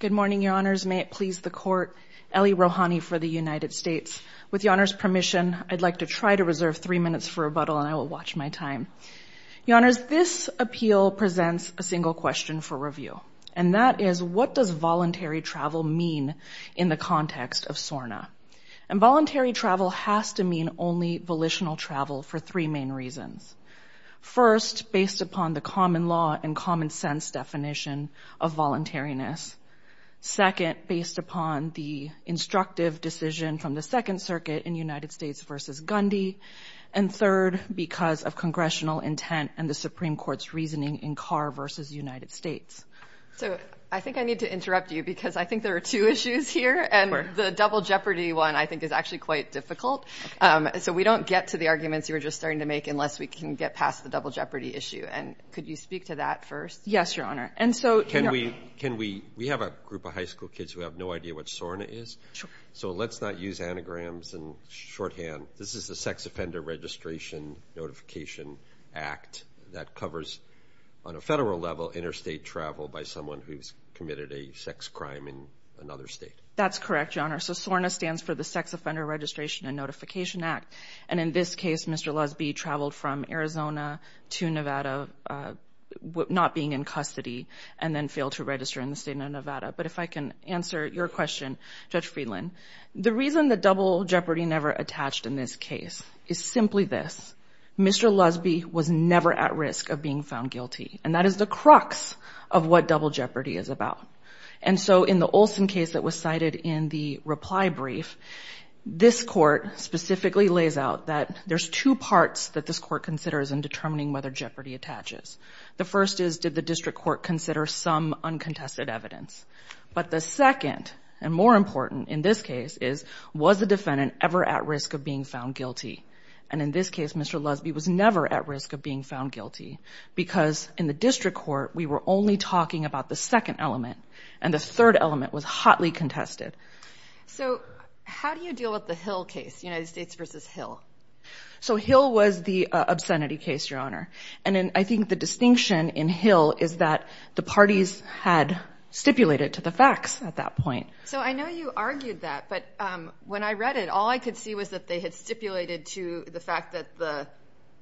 Good morning, Your Honors. May it please the Court, Ellie Rohani for the United States. With Your Honor's permission, I'd like to try to reserve three minutes for rebuttal and I will watch my time. Your Honors, this appeal presents a single question for review, and that is, what does voluntary travel mean in the context of SORNA? And voluntary travel has to mean only volitional travel for three main reasons. First, based upon the common law and common sense definition of voluntariness. Second, based upon the instructive decision from the Second Circuit in United States v. Gundy. And third, because of congressional intent and the Supreme Court's reasoning in Carr v. United States. So I think I need to interrupt you because I think there are two issues here and the double jeopardy one I think is actually quite difficult. So we don't get to the arguments you were just starting to make unless we can get past the double jeopardy issue. And could you speak to that first? Yes, Your Honor. And so Can we, can we, we have a group of high school kids who have no idea what SORNA is. Sure. So let's not use anagrams and shorthand. This is the Sex Offender Registration Notification Act that covers, on a federal level, interstate travel by someone who's committed a sex crime in another state. That's correct, Your Honor. So SORNA stands for the Sex Offender Registration and Notification Act. And in this case, Mr. Lusby traveled from Arizona to Nevada, not being in custody, and then failed to register in the state of Nevada. But if I can answer your question, Judge Friedland, the reason the double jeopardy never attached in this case is simply this. Mr. Lusby was never at risk of being found guilty. And that is the crux of what double jeopardy is. And as you noted in the reply brief, this court specifically lays out that there's two parts that this court considers in determining whether jeopardy attaches. The first is, did the district court consider some uncontested evidence? But the second, and more important in this case, is, was the defendant ever at risk of being found guilty? And in this case, Mr. Lusby was never at risk of being found guilty because in the district court, we were only talking about the second element, and the third element was hotly contested. So how do you deal with the Hill case, United States v. Hill? So Hill was the obscenity case, Your Honor. And I think the distinction in Hill is that the parties had stipulated to the facts at that point. So I know you argued that, but when I read it, all I could see was that they had stipulated to the fact that the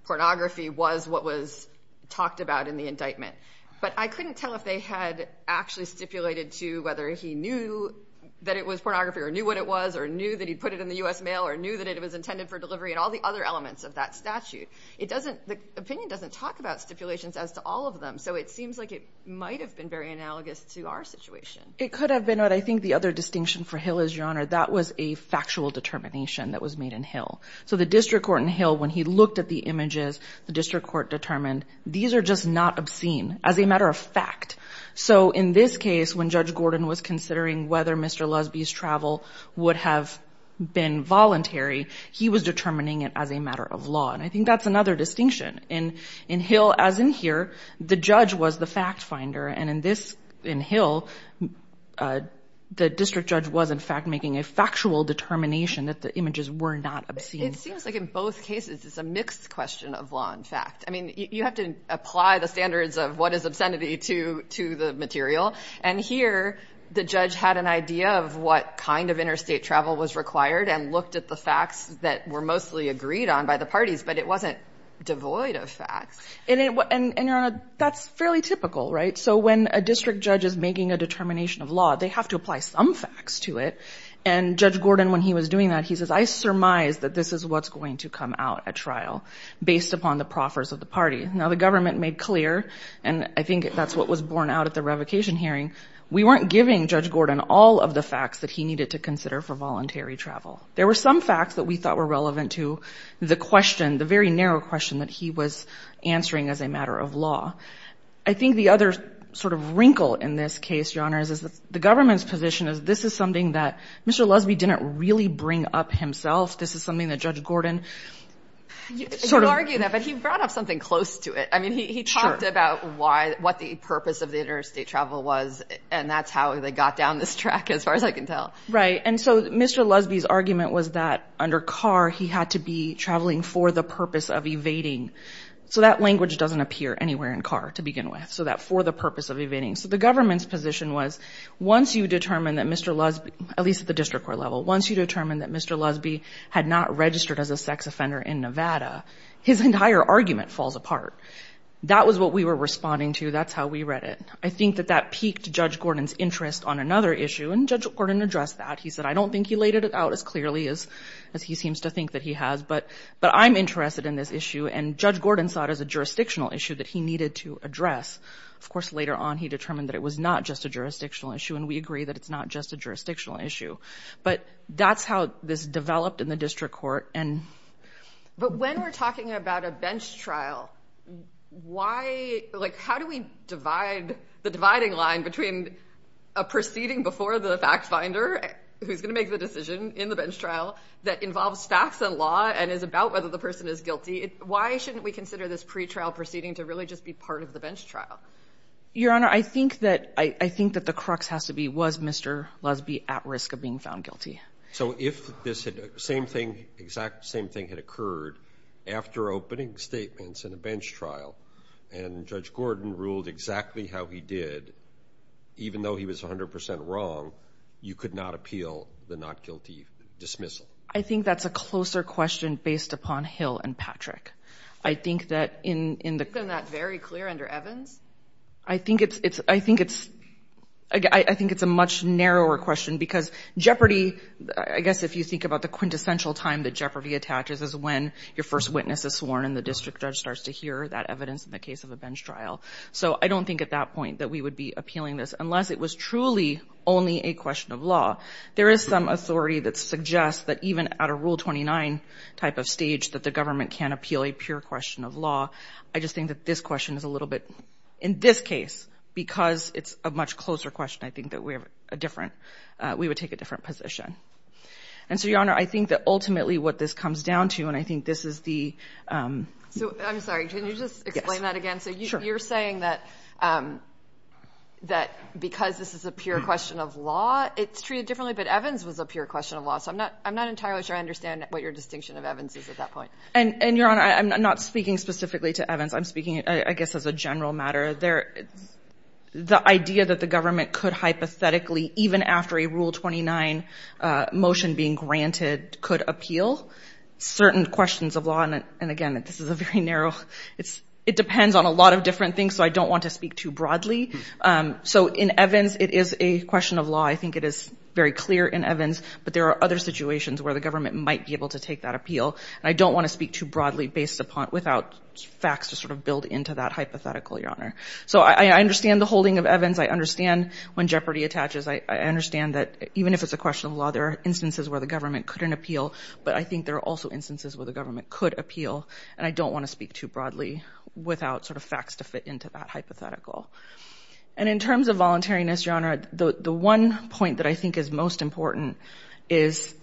pornography was what was talked about in the indictment. But I couldn't tell if they had actually stipulated to whether he knew that it was pornography or knew what it was or knew that he put it in the U.S. mail or knew that it was intended for delivery and all the other elements of that statute. It doesn't, the opinion doesn't talk about stipulations as to all of them, so it seems like it might have been very analogous to our situation. It could have been, but I think the other distinction for Hill is, Your Honor, that was a factual determination that was made in Hill. So the district court in Hill, when he looked at the images, the district court determined, these are just not obscene as a matter of fact. So in this case, when Judge Gordon was considering whether Mr. Lusby's travel would have been voluntary, he was determining it as a matter of law. And I think that's another distinction. In Hill, as in here, the judge was the fact finder. And in this, in Hill, the district judge was, in fact, making a factual determination that the images were not obscene. It seems like in both cases, it's a mixed question of law and fact. I mean, you have to apply the standards of what is obscenity to the material. And here, the judge had an idea of what kind of interstate travel was required and looked at the facts that were mostly agreed on by the parties, but it wasn't devoid of facts. And, Your Honor, that's fairly typical, right? So when a district judge is making a determination of law, they have to apply some facts to it. And Judge Gordon, when he was doing that, he says, I surmise that this is what's going to come out at trial based upon the proffers of the party. Now, the government made clear, and I think that's what was borne out at the revocation hearing, we weren't giving Judge Gordon all of the facts that he needed to consider for voluntary travel. There were some facts that we thought were relevant to the question, the very narrow question that he was answering as a matter of law. I think the other sort of wrinkle in this case, Your Honor, is that the government's position is this is something that Mr. Lusby didn't really bring up himself. This is something that Judge Gordon sort of... You argue that, but he brought up something close to it. I mean, he talked about what the purpose of the interstate travel was, and that's how they got down this track, as far as I can tell. Right. And so Mr. Lusby's argument was that under Carr, he had to be traveling for the purpose of evading. So that language doesn't appear anywhere in Carr to begin with, so that for the purpose of evading. So the government's position was once you determine that Mr. Lusby, at least at the district court level, once you determine that Mr. Lusby had not registered as a sex offender in Nevada, his entire argument falls apart. That was what we were responding to. That's how we read it. I think that that piqued Judge Gordon's interest on another issue, and Judge Gordon addressed that. He said, I don't think he laid it out as clearly as he seems to think that he has, but I'm interested in this issue, and Judge Gordon saw it as a jurisdictional issue that he needed to address. Of course, later on, he determined that it was not just a jurisdictional issue, and we agree that it's not just a jurisdictional issue. But that's how this developed in the district court. But when we're talking about a bench trial, how do we divide the dividing line between a proceeding before the fact finder, who's going to make the decision in the bench trial that involves facts and law and is about whether the person is guilty? Why shouldn't we consider this pretrial proceeding to really just be part of the bench trial? Your Honor, I think that the crux has to be, was Mr. Lusby at risk of being found guilty? So if the exact same thing had occurred after opening statements in a bench trial, and Judge Gordon ruled exactly how he did, even though he was 100% wrong, you could not appeal the not guilty dismissal. I think that's a closer question based upon Hill and Patrick. I think that in the- Isn't that very clear under Evans? I think it's a much narrower question because jeopardy, I guess if you think about the quintessential time that jeopardy attaches is when your first witness is sworn and the district judge starts to hear that evidence in the case of a bench trial. So I don't think at that point that we would be appealing this unless it was truly only a question of law. There is some authority that suggests that even at a Rule 29 type of stage that the government can appeal a pure question of law. I just think that this question is a little bit, in this case, because it's a much closer question I think that we have a different, we would take a different position. And so Your Honor, I think that ultimately what this comes down to, and I think this is the- I'm sorry, can you just explain that again? So you're saying that because this is a pure question of law, it's treated differently, but Evans was a pure question of law. So I'm not entirely sure I understand what your distinction of Evans is at that point. And Your Honor, I'm not speaking specifically to Evans. I'm speaking, I guess, as a general matter. The idea that the government could hypothetically, even after a Rule 29 motion being granted, could appeal certain questions of law, and again, this is a very narrow- It depends on a lot of different things, so I don't want to speak too broadly. So in Evans, it is a question of law. I think it is very clear in Evans, but there are other situations where the government might be able to take that appeal, and I don't want to speak too broadly without facts to sort of build into that hypothetical, Your Honor. So I understand the holding of Evans. I understand when jeopardy attaches. I understand that even if it's a question of law, there are instances where the government couldn't appeal, but I think there are also instances where the government could appeal, and I don't want to speak too broadly without sort of facts to fit into that hypothetical. And in terms of voluntariness, Your Honor, the one point that I think is most important is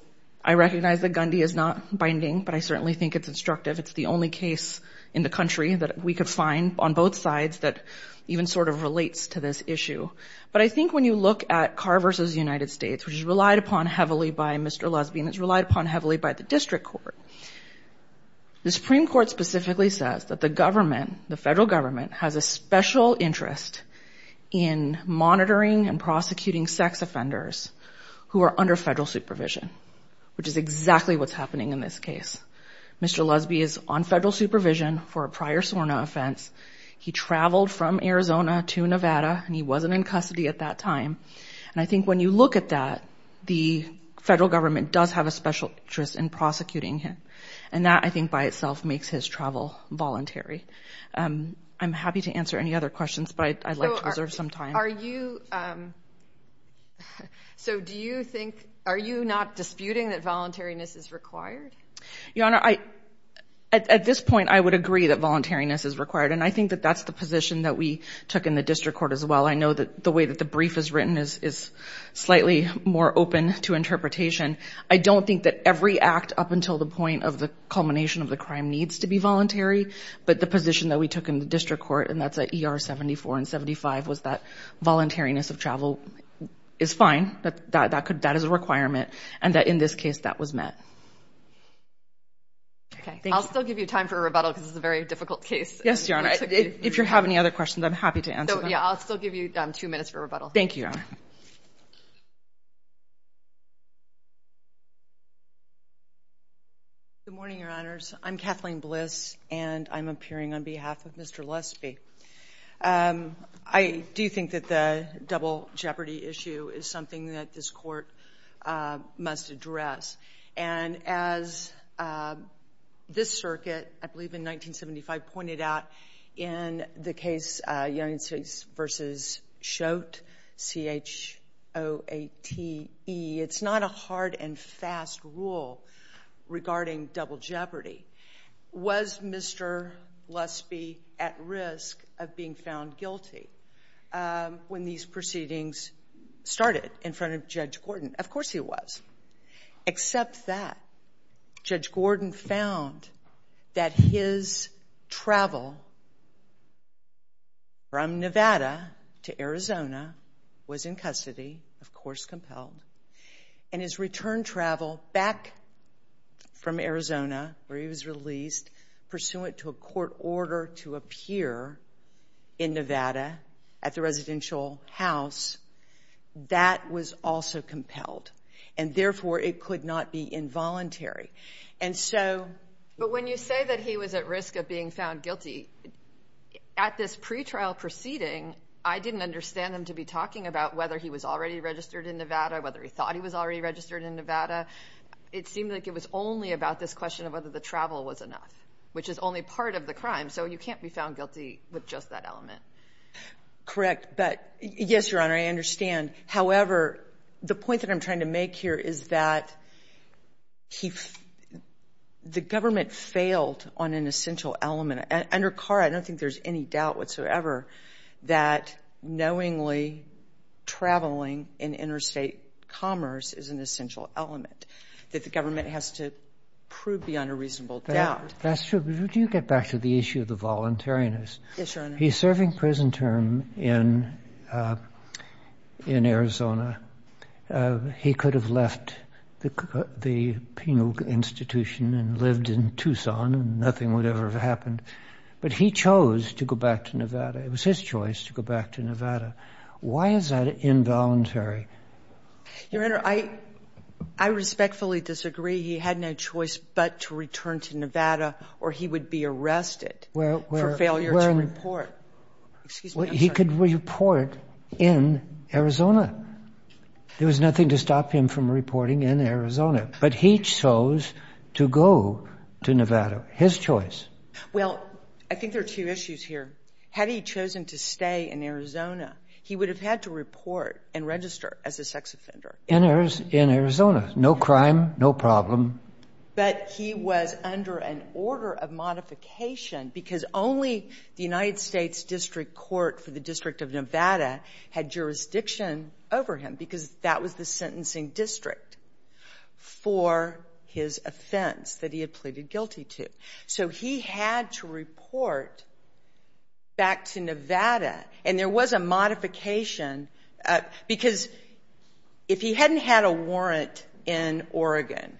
I recognize that Gundy is not binding, but I certainly think it's instructive. It's the only case in the country that we could find on both sides that even sort of relates to this issue. But I think when you look at Carr v. United States, which is relied upon heavily by Mr. The Supreme Court specifically says that the government, the federal government, has a special interest in monitoring and prosecuting sex offenders who are under federal supervision, which is exactly what's happening in this case. Mr. Lusby is on federal supervision for a prior SORNA offense. He traveled from Arizona to Nevada, and he wasn't in custody at that time, and I think when you look at that, the federal government does have a special interest in prosecuting him, and that I think by itself makes his travel voluntary. I'm happy to answer any other questions, but I'd like to reserve some time. Are you, so do you think, are you not disputing that voluntariness is required? Your Honor, at this point, I would agree that voluntariness is required, and I think that that's the position that we took in the district court as well. I know that the way that the brief is written is slightly more open to interpretation. I don't think that every act up until the point of the culmination of the crime needs to be voluntary, but the position that we took in the district court, and that's at ER 74 and 75, was that voluntariness of travel is fine, that that is a requirement, and that in this case, that was met. Okay. I'll still give you time for a rebuttal because this is a very difficult case. Yes, Your Honor. If you have any other questions, I'm happy to answer them. So, yeah, I'll still give you two minutes for rebuttal. Thank you, Your Honor. Good morning, Your Honors. I'm Kathleen Bliss, and I'm appearing on behalf of Mr. Lesby. I do think that the double jeopardy issue is something that this Court must address, and as this circuit, I believe in 1975, pointed out in the case United States v. Schott, C-H-O-A-T-E, it's not a hard and fast rule regarding double jeopardy. Was Mr. Lesby at risk of being found guilty when these proceedings started in front of Judge Gordon? Of course he was, except that Judge Gordon found that his travel from Nevada to Arizona was in custody, of course compelled, and his return travel back from Arizona where he was released pursuant to a court order to appear in Nevada at the residential house, that was also compelled, and therefore it could not be involuntary. And so— But when you say that he was at risk of being found guilty, at this pretrial proceeding, I didn't understand them to be talking about whether he was already registered in Nevada, whether he thought he was already registered in Nevada. It seemed like it was only about this question of whether the travel was enough, which is only part of the crime, so you can't be found guilty with just that element. Correct. But, yes, Your Honor, I understand. However, the point that I'm trying to make here is that he — the government failed on an essential element. Under Carr, I don't think there's any doubt whatsoever that knowingly traveling in interstate commerce is an essential element, that the government has to prove beyond a reasonable doubt. That's true. But would you get back to the issue of the voluntariness? Yes, Your Honor. He's serving prison term in Arizona. He could have left the penal institution and lived in Tucson and nothing would ever have happened. But he chose to go back to Nevada. It was his choice to go back to Nevada. Why is that involuntary? Your Honor, I respectfully disagree. He had no choice but to return to Nevada or he would be arrested for failure to report. Excuse me, I'm sorry. He could report in Arizona. There was nothing to stop him from reporting in Arizona. But he chose to go to Nevada, his choice. Well, I think there are two issues here. Had he chosen to stay in Arizona, he would have had to report and register as a sex offender. In Arizona, no crime, no problem. But he was under an order of modification because only the United States District Court for the District of Nevada had jurisdiction over him because that was the sentencing district for his offense that he had pleaded guilty to. So he had to report back to Nevada. And there was a modification because if he hadn't had a warrant in Oregon,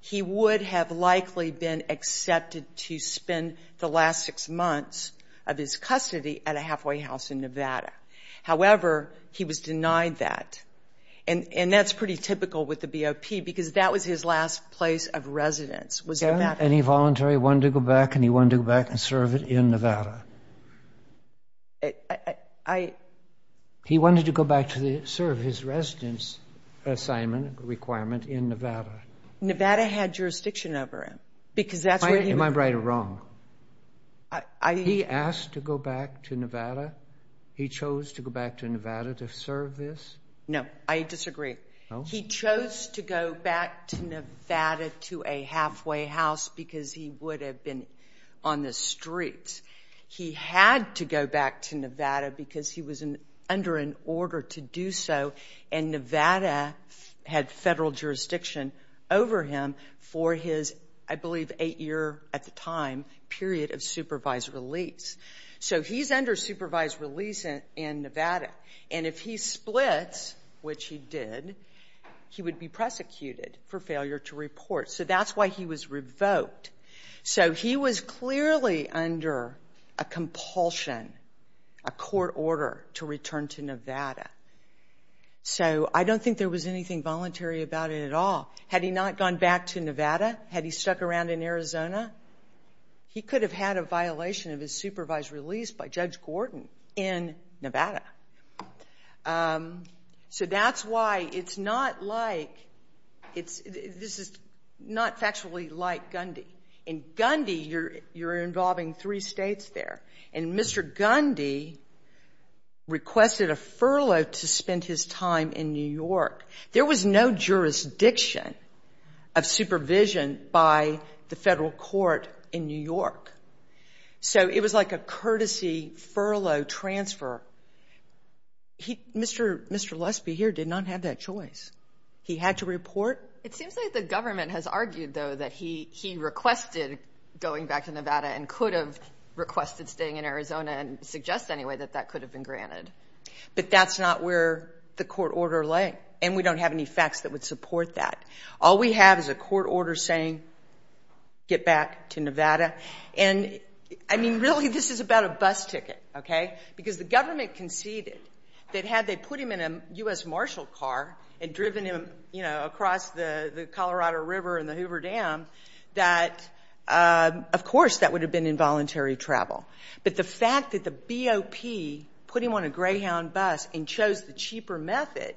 he would have likely been accepted to spend the last six months of his custody at a halfway house in Nevada. However, he was denied that. And that's pretty typical with the BOP because that was his last place of residence was in Nevada. And he voluntarily wanted to go back and he wanted to go back and serve it in Nevada. He wanted to go back to serve his residence assignment requirement in Nevada. Nevada had jurisdiction over him because that's where he was. Am I right or wrong? He asked to go back to Nevada. He chose to go back to Nevada to serve this? No, I disagree. He chose to go back to Nevada to a halfway house because he would have been on the streets. He had to go back to Nevada because he was under an order to do so. And Nevada had federal jurisdiction over him for his, I believe, eight-year, at the time, period of supervised release. So he's under supervised release in Nevada. And if he splits, which he did, he would be prosecuted for failure to report. So that's why he was revoked. So he was clearly under a compulsion, a court order, to return to Nevada. So I don't think there was anything voluntary about it at all. Had he not gone back to Nevada, had he stuck around in Arizona, he could have had a violation of his supervised release by Judge Gordon in Nevada. So that's why it's not like, it's, this is not factually like Gundy. In Gundy, you're involving three states there. And Mr. Gundy requested a furlough to spend his time in New York. There was no jurisdiction of supervision by the federal court in New York. So it was like a courtesy furlough transfer. Mr. Lusby here did not have that choice. He had to report. It seems like the government has argued, though, that he requested going back to Nevada and could have requested staying in Arizona and suggest anyway that that could have been granted. But that's not where the court order lay. And we don't have any facts that would support that. All we have is a court order saying, get back to Nevada. And I mean, really, this is about a bus ticket, okay? Because the government conceded that had they put him in a U.S. Marshall car and driven him, you know, across the Colorado River and the Hoover Dam, that, of course, that would have been involuntary travel. But the fact that the BOP put him on a Greyhound bus and chose the cheaper method,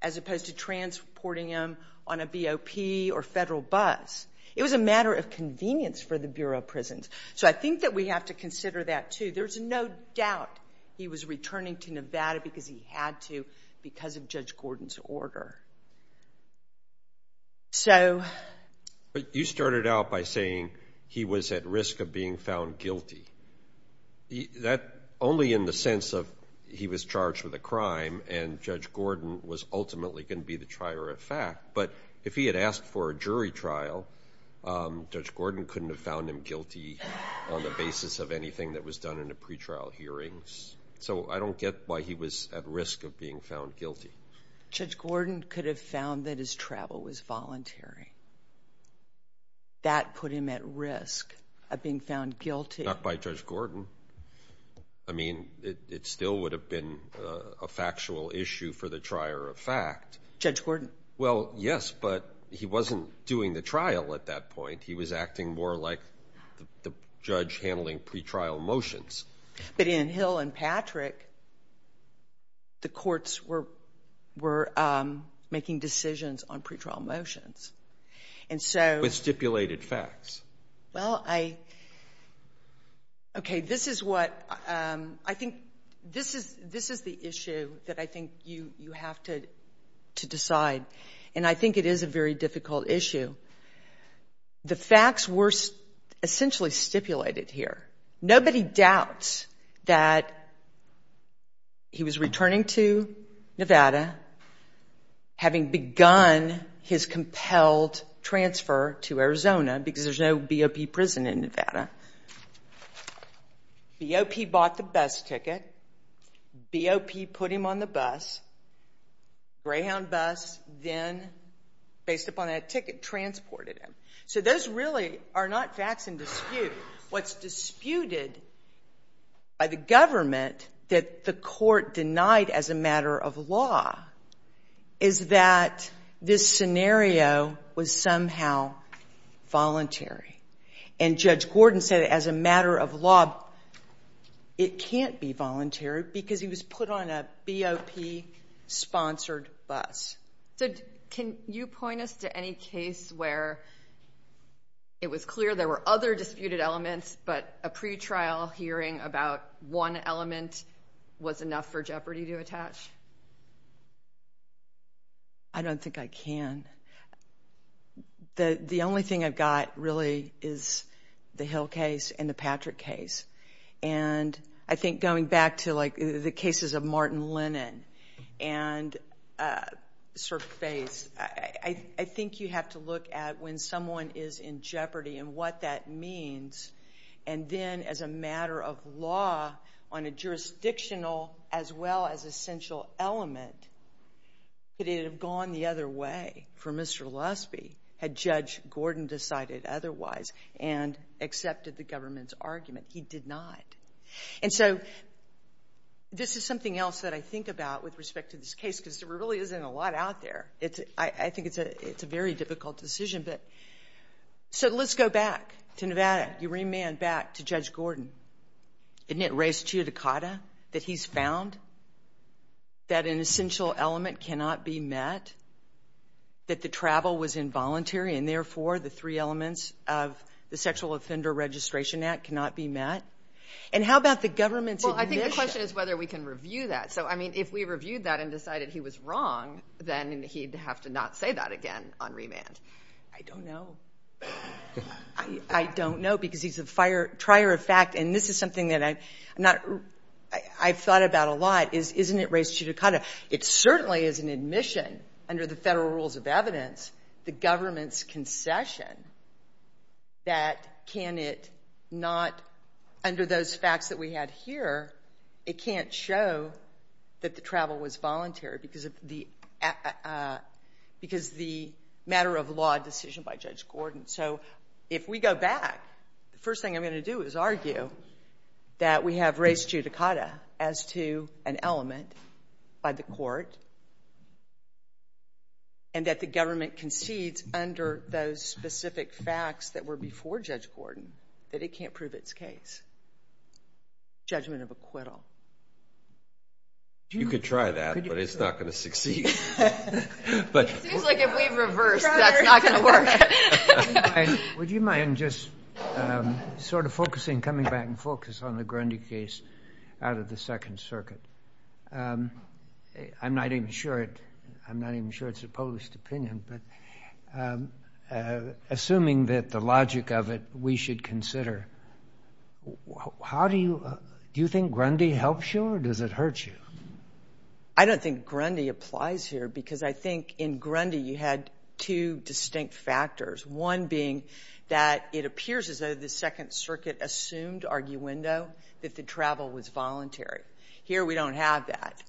as opposed to transporting him on a BOP or federal bus. It was a matter of convenience for the Bureau of Prisons. So I think that we have to consider that, too. There's no doubt he was returning to Nevada because he had to, because of Judge Gordon's order. So. But you started out by saying he was at risk of being found guilty. That only in the sense of he was charged with a crime and Judge Gordon was ultimately going to be the trier of fact. But if he had asked for a jury trial, Judge Gordon couldn't have found him guilty on the basis of anything that was done in the pretrial hearings. So I don't get why he was at risk of being found guilty. Judge Gordon could have found that his travel was voluntary. That put him at risk of being found guilty. Not by Judge Gordon. I mean, it still would have been a factual issue for the trier of fact. Judge Gordon? Well, yes, but he wasn't doing the trial at that point. He was acting more like the judge handling pretrial motions. But in Hill and Patrick, the courts were making decisions on pretrial motions. And so- With stipulated facts. Well, I, okay, this is what, I think, this is the issue that I think you have to decide. And I think it is a very difficult issue. The facts were essentially stipulated here. Nobody doubts that he was returning to Nevada, having begun his compelled transfer to Arizona, because there's no BOP prison in there, BOP put him on the bus, Greyhound bus, then, based upon that ticket, transported him. So those really are not facts in dispute. What's disputed by the government that the court denied as a matter of law is that this scenario was somehow voluntary. And Judge Gordon said, as a matter of law, it can't be voluntary, because he was put on a BOP-sponsored bus. So can you point us to any case where it was clear there were other disputed elements, but a pretrial hearing about one element was enough for Jeopardy to attach? I don't think I can. The only thing I've got, really, is the Hill case and the Patrick case. And I think going back to the cases of Martin Lennon and Sir Face, I think you have to look at when someone is in Jeopardy and what that means. And then, as a matter of law, on a jurisdictional as well as essential element, could it have gone the other way for Mr. Lusby, had Judge Gordon decided otherwise and accepted the government's argument? He did not. And so this is something else that I think about with respect to this case, because there really isn't a lot out there. I think it's a very difficult decision. So let's go back to Nevada. You remand back to Judge Gordon. Isn't it res judicata that he's found that an essential element cannot be met, that the travel was involuntary, and therefore, the three elements of the Sexual Offender Registration Act cannot be met? And how about the government's admission? Well, I think the question is whether we can review that. So, I mean, if we reviewed that and decided he was wrong, then he'd have to not say that again on remand. I don't know. I don't know, because he's a trier of fact. And this is something that I've thought about a lot, is isn't it res judicata? It certainly is an admission under the federal rules of evidence, the government's concession, that can it not, under those facts that we had here, it can't show that the travel was voluntary. Because the matter of law decision by Judge Gordon. So if we go back, the first thing I'm going to do is argue that we have res judicata as to an element by the court, and that the government concedes under those specific facts that were before Judge Gordon, that it can't prove its case. Judgment of acquittal. You could try that, but it's not going to succeed. It seems like if we reverse, that's not going to work. Would you mind just sort of focusing, coming back and focus on the Grundy case out of the Second Circuit? I'm not even sure it's a published opinion, but assuming that the logic of it, we should consider, how do you, do you think Grundy helps you, or does it hurt you? I don't think Grundy applies here, because I think in Grundy you had two distinct factors. One being that it appears as though the Second Circuit assumed arguendo that the travel was voluntary. Here we don't have that.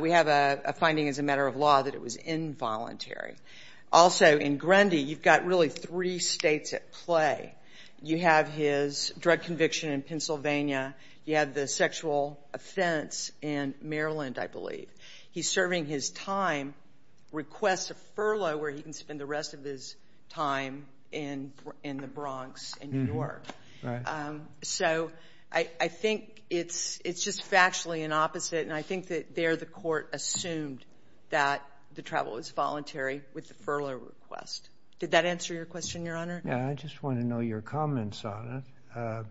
We have a finding as a matter of law that it was involuntary. Also, in Grundy, you've got really three states at play. You have his drug conviction in Pennsylvania. You have the sexual offense in Maryland, I believe. He's serving his time, requests a furlough where he can spend the rest of his time in the Bronx and New York. So I think it's just factually an opposite, and I think that there the court assumed that the travel was voluntary with the furlough request. Did that answer your question, Your Honor? Yeah, I just want to know your comments on it.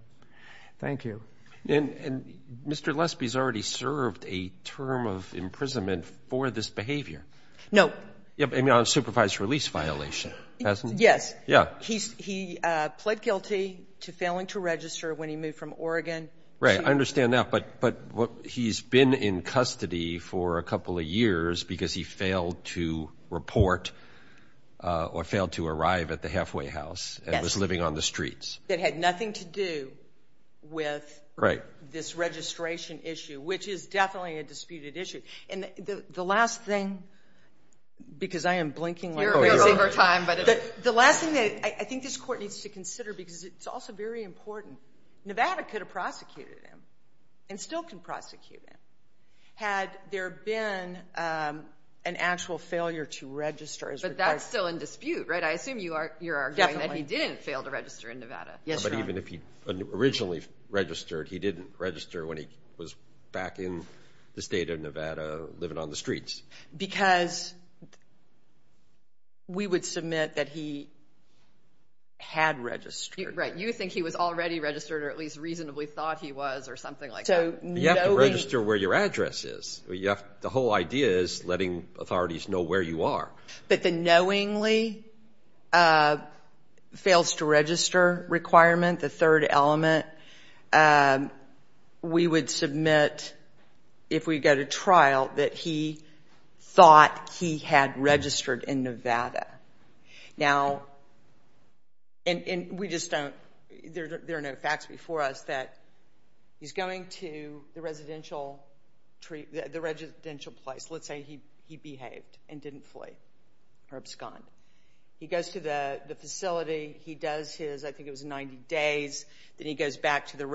Thank you. And Mr. Lesby's already served a term of imprisonment for this behavior. No. I mean, on a supervised release violation, hasn't he? Yes. Yeah. He pled guilty to failing to register when he moved from Oregon. Right. I understand that, but he's been in custody for a couple of years because he failed to report or failed to arrive at the halfway house and was living on the streets. That had nothing to do with this registration issue, which is definitely a disputed issue. And the last thing, because I am blinking like crazy. You're over time. The last thing that I think this court needs to consider, because it's also very important, Nevada could have prosecuted him and still can prosecute him. Had there been an actual failure to register? But that's still in dispute, right? I assume you're arguing that he didn't fail to register in Nevada. Yes, Your Honor. But even if he originally registered, he didn't register when he was back in the state of Nevada living on the streets. Because we would submit that he had registered. Right. You think he was already registered or at least reasonably thought he was or something like that. You have to register where your address is. The whole idea is letting authorities know where you are. But the knowingly fails to register requirement, the third element, we would submit if we go to trial that he thought he had registered in Nevada. Now, and we just don't – there are no facts before us that he's going to the residential place. Let's say he behaved and didn't flee or abscond. He goes to the facility. He does his – I think it was 90 days. Then he goes back to the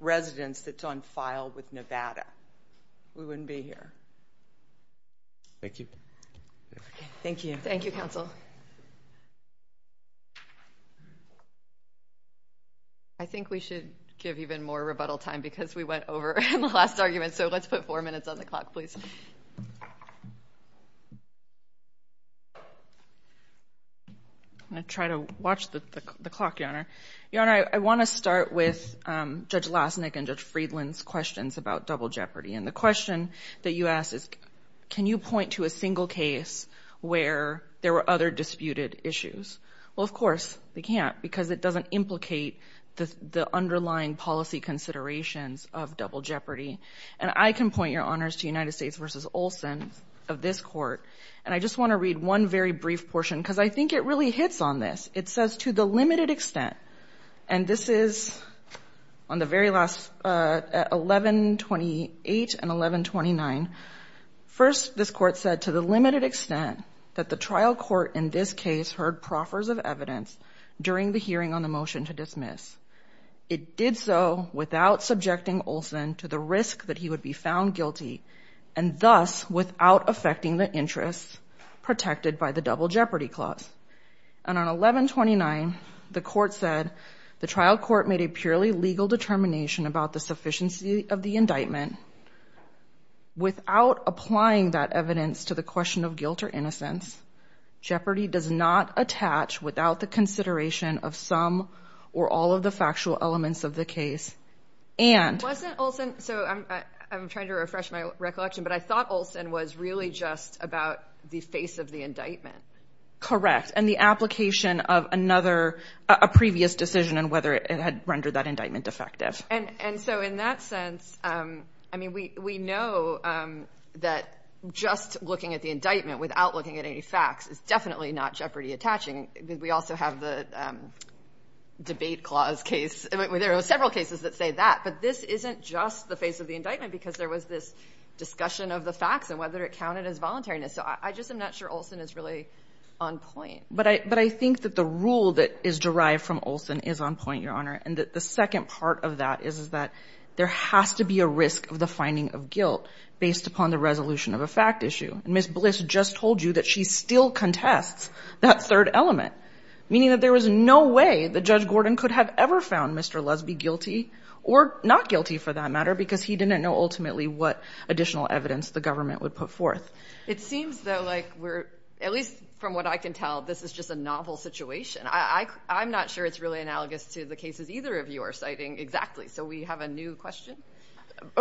residence that's on file with Nevada. We wouldn't be here. Thank you. Thank you. Thank you, counsel. Thank you. I think we should give even more rebuttal time because we went over in the last argument, so let's put four minutes on the clock, please. I'm going to try to watch the clock, Your Honor. Your Honor, I want to start with Judge Lasnik and Judge Friedland's questions about double jeopardy. And the question that you asked is, can you point to a single case where there were other disputed issues? Well, of course we can't because it doesn't implicate the underlying policy considerations of double jeopardy. And I can point, Your Honors, to United States v. Olson of this court. And I just want to read one very brief portion because I think it really hits on this. It says, to the limited extent, and this is on the very last 1128 and 1129. First, this court said, to the limited extent that the trial court in this case heard proffers of evidence during the hearing on the motion to dismiss. It did so without subjecting Olson to the risk that he would be found guilty and thus without affecting the interests protected by the double jeopardy clause. And on 1129, the court said, the trial court made a purely legal determination about the sufficiency of the indictment. Without applying that evidence to the question of guilt or innocence, jeopardy does not attach without the consideration of some or all of the factual elements of the case. Wasn't Olson, so I'm trying to refresh my recollection, but I thought Olson was really just about the face of the indictment. Correct. And the application of another, a previous decision on whether it had rendered that indictment effective. And so in that sense, I mean, we know that just looking at the indictment without looking at any facts is definitely not jeopardy attaching. We also have the debate clause case. There are several cases that say that, but this isn't just the face of the indictment because there was this discussion of the facts and whether it counted as voluntariness. So I just am not sure Olson is really on point. But I think that the rule that is derived from Olson is on point, Your Honor, and that the second part of that is that there has to be a risk of the finding of guilt based upon the resolution of a fact issue. And Ms. Bliss just told you that she still contests that third element, meaning that there was no way that Judge Gordon could have ever found Mr. Lusby guilty or not guilty for that matter because he didn't know ultimately what additional evidence the government would put forth. It seems, though, like we're, at least from what I can tell, this is just a novel situation. I'm not sure it's really analogous to the cases either of you are citing exactly. So we have a new question?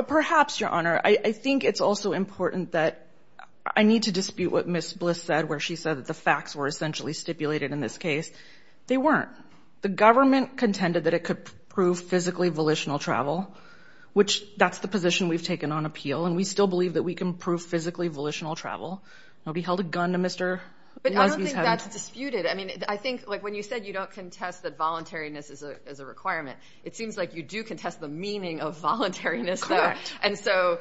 Perhaps, Your Honor. I think it's also important that I need to dispute what Ms. Bliss said, where she said that the facts were essentially stipulated in this case. They weren't. The government contended that it could prove physically volitional travel, which that's the position we've taken on appeal, and we still believe that we can prove physically volitional travel. Nobody held a gun to Mr. Lusby's head. But I don't think that's disputed. I mean, I think, like when you said you don't contest that voluntariness is a requirement, it seems like you do contest the meaning of voluntariness there. Correct. And so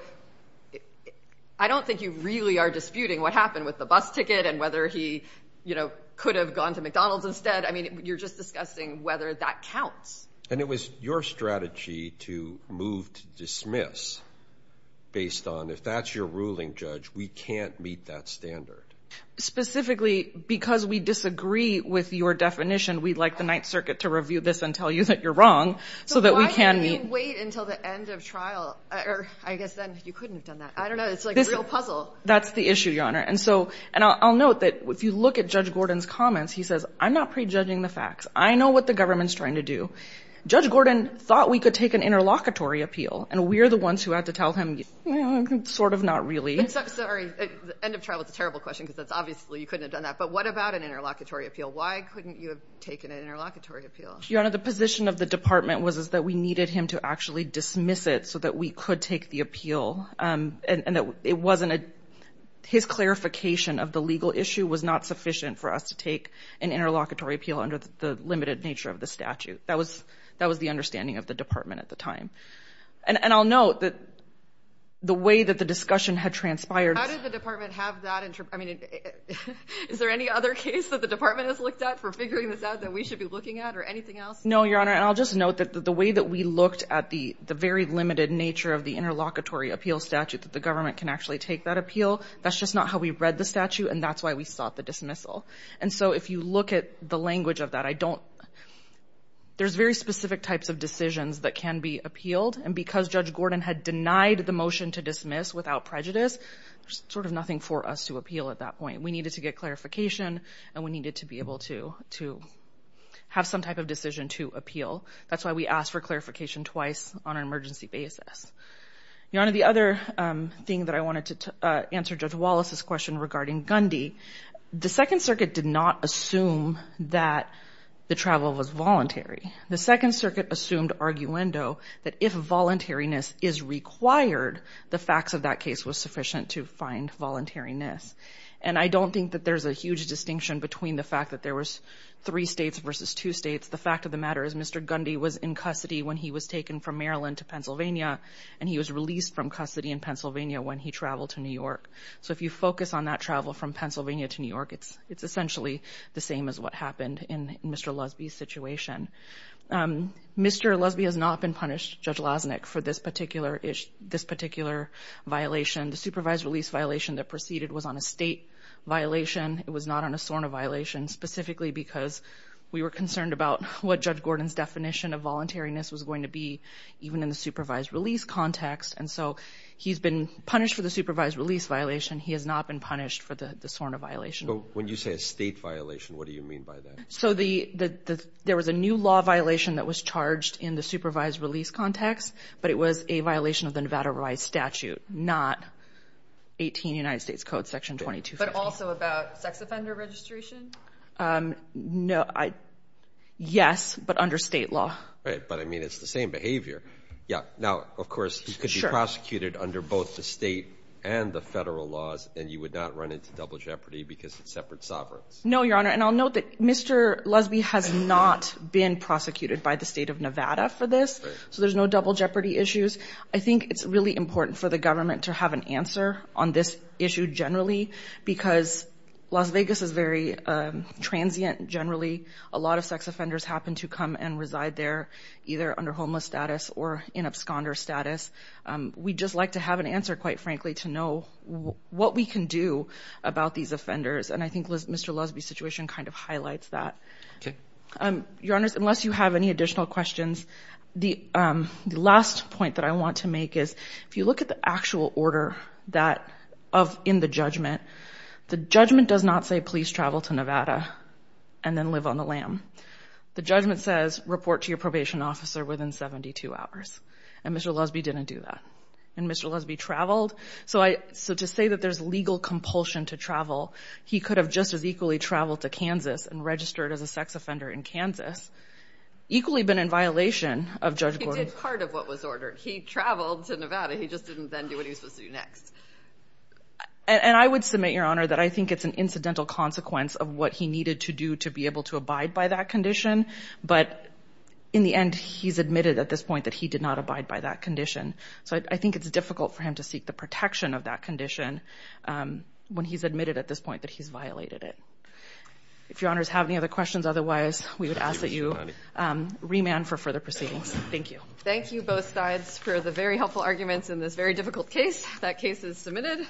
I don't think you really are disputing what happened with the bus ticket and whether he, you know, could have gone to McDonald's instead. I mean, you're just discussing whether that counts. And it was your strategy to move to dismiss based on, if that's your ruling, Judge, we can't meet that standard. Specifically, because we disagree with your definition, we'd like the Ninth Circuit to review this and tell you that you're wrong, so that we can meet. So why did we wait until the end of trial? Or I guess then you couldn't have done that. I don't know. It's like a real puzzle. That's the issue, Your Honor. And so I'll note that if you look at Judge Gordon's comments, he says, I'm not prejudging the facts. I know what the government's trying to do. Judge Gordon thought we could take an interlocutory appeal, and we're the ones who had to tell him, you know, sort of not really. Sorry, end of trial is a terrible question, because obviously you couldn't have done that. But what about an interlocutory appeal? Why couldn't you have taken an interlocutory appeal? Your Honor, the position of the department was that we needed him to actually dismiss it so that we could take the appeal. And his clarification of the legal issue was not sufficient for us to take an interlocutory appeal under the limited nature of the statute. That was the understanding of the department at the time. And I'll note that the way that the discussion had transpired. How did the department have that? I mean, is there any other case that the department has looked at for figuring this out that we should be looking at or anything else? No, Your Honor. And I'll just note that the way that we looked at the very limited nature of the interlocutory appeal statute that the government can actually take that appeal, that's just not how we read the statute, and that's why we sought the dismissal. And so if you look at the language of that, I don't – there's very specific types of decisions that can be appealed, and because Judge Gordon had denied the motion to dismiss without prejudice, there's sort of nothing for us to appeal at that point. We needed to get clarification, and we needed to be able to have some type of decision to appeal. That's why we asked for clarification twice on an emergency basis. Your Honor, the other thing that I wanted to answer Judge Wallace's question regarding Gundy, the Second Circuit did not assume that the travel was voluntary. The Second Circuit assumed arguendo that if voluntariness is required, the facts of that case was sufficient to find voluntariness. And I don't think that there's a huge distinction between the fact that there was three states versus two states. The fact of the matter is Mr. Gundy was in custody when he was taken from Maryland to Pennsylvania, and he was released from custody in Pennsylvania when he traveled to New York. So if you focus on that travel from Pennsylvania to New York, it's essentially the same as what happened in Mr. Lusby's situation. Mr. Lusby has not been punished, Judge Lasnik, for this particular violation. The supervised release violation that proceeded was on a state violation. It was not on a SORNA violation, specifically because we were concerned about what Judge Gordon's definition of voluntariness was going to be, even in the supervised release context. And so he's been punished for the supervised release violation. He has not been punished for the SORNA violation. So when you say a state violation, what do you mean by that? So there was a new law violation that was charged in the supervised release context, but it was a violation of the Nevada Revised Statute, not 18 United States Code Section 2250. But also about sex offender registration? No. Yes, but under state law. Right, but, I mean, it's the same behavior. Yeah. Now, of course, he could be prosecuted under both the state and the federal laws, and you would not run into double jeopardy because it's separate sovereigns. No, Your Honor, and I'll note that Mr. Lusby has not been prosecuted by the state of Nevada for this, so there's no double jeopardy issues. I think it's really important for the government to have an answer on this issue generally, because Las Vegas is very transient generally. A lot of sex offenders happen to come and reside there, either under homeless status or in absconder status. We'd just like to have an answer, quite frankly, to know what we can do about these offenders, and I think Mr. Lusby's situation kind of highlights that. Okay. Your Honors, unless you have any additional questions, the last point that I want to make is, if you look at the actual order in the judgment, the judgment does not say, please travel to Nevada and then live on the lam. The judgment says, report to your probation officer within 72 hours, and Mr. Lusby didn't do that. And Mr. Lusby traveled. So to say that there's legal compulsion to travel, he could have just as equally traveled to Kansas and registered as a sex offender in Kansas. Equally been in violation of Judge Gordon's. He did part of what was ordered. He traveled to Nevada. He just didn't then do what he was supposed to do next. And I would submit, Your Honor, that I think it's an incidental consequence of what he needed to do to be able to abide by that condition. But in the end, he's admitted at this point that he did not abide by that condition. So I think it's difficult for him to seek the protection of that condition when he's admitted at this point that he's violated it. If Your Honors have any other questions, otherwise we would ask that you remand for further proceedings. Thank you. Thank you both sides for the very helpful arguments in this very difficult case. That case is submitted.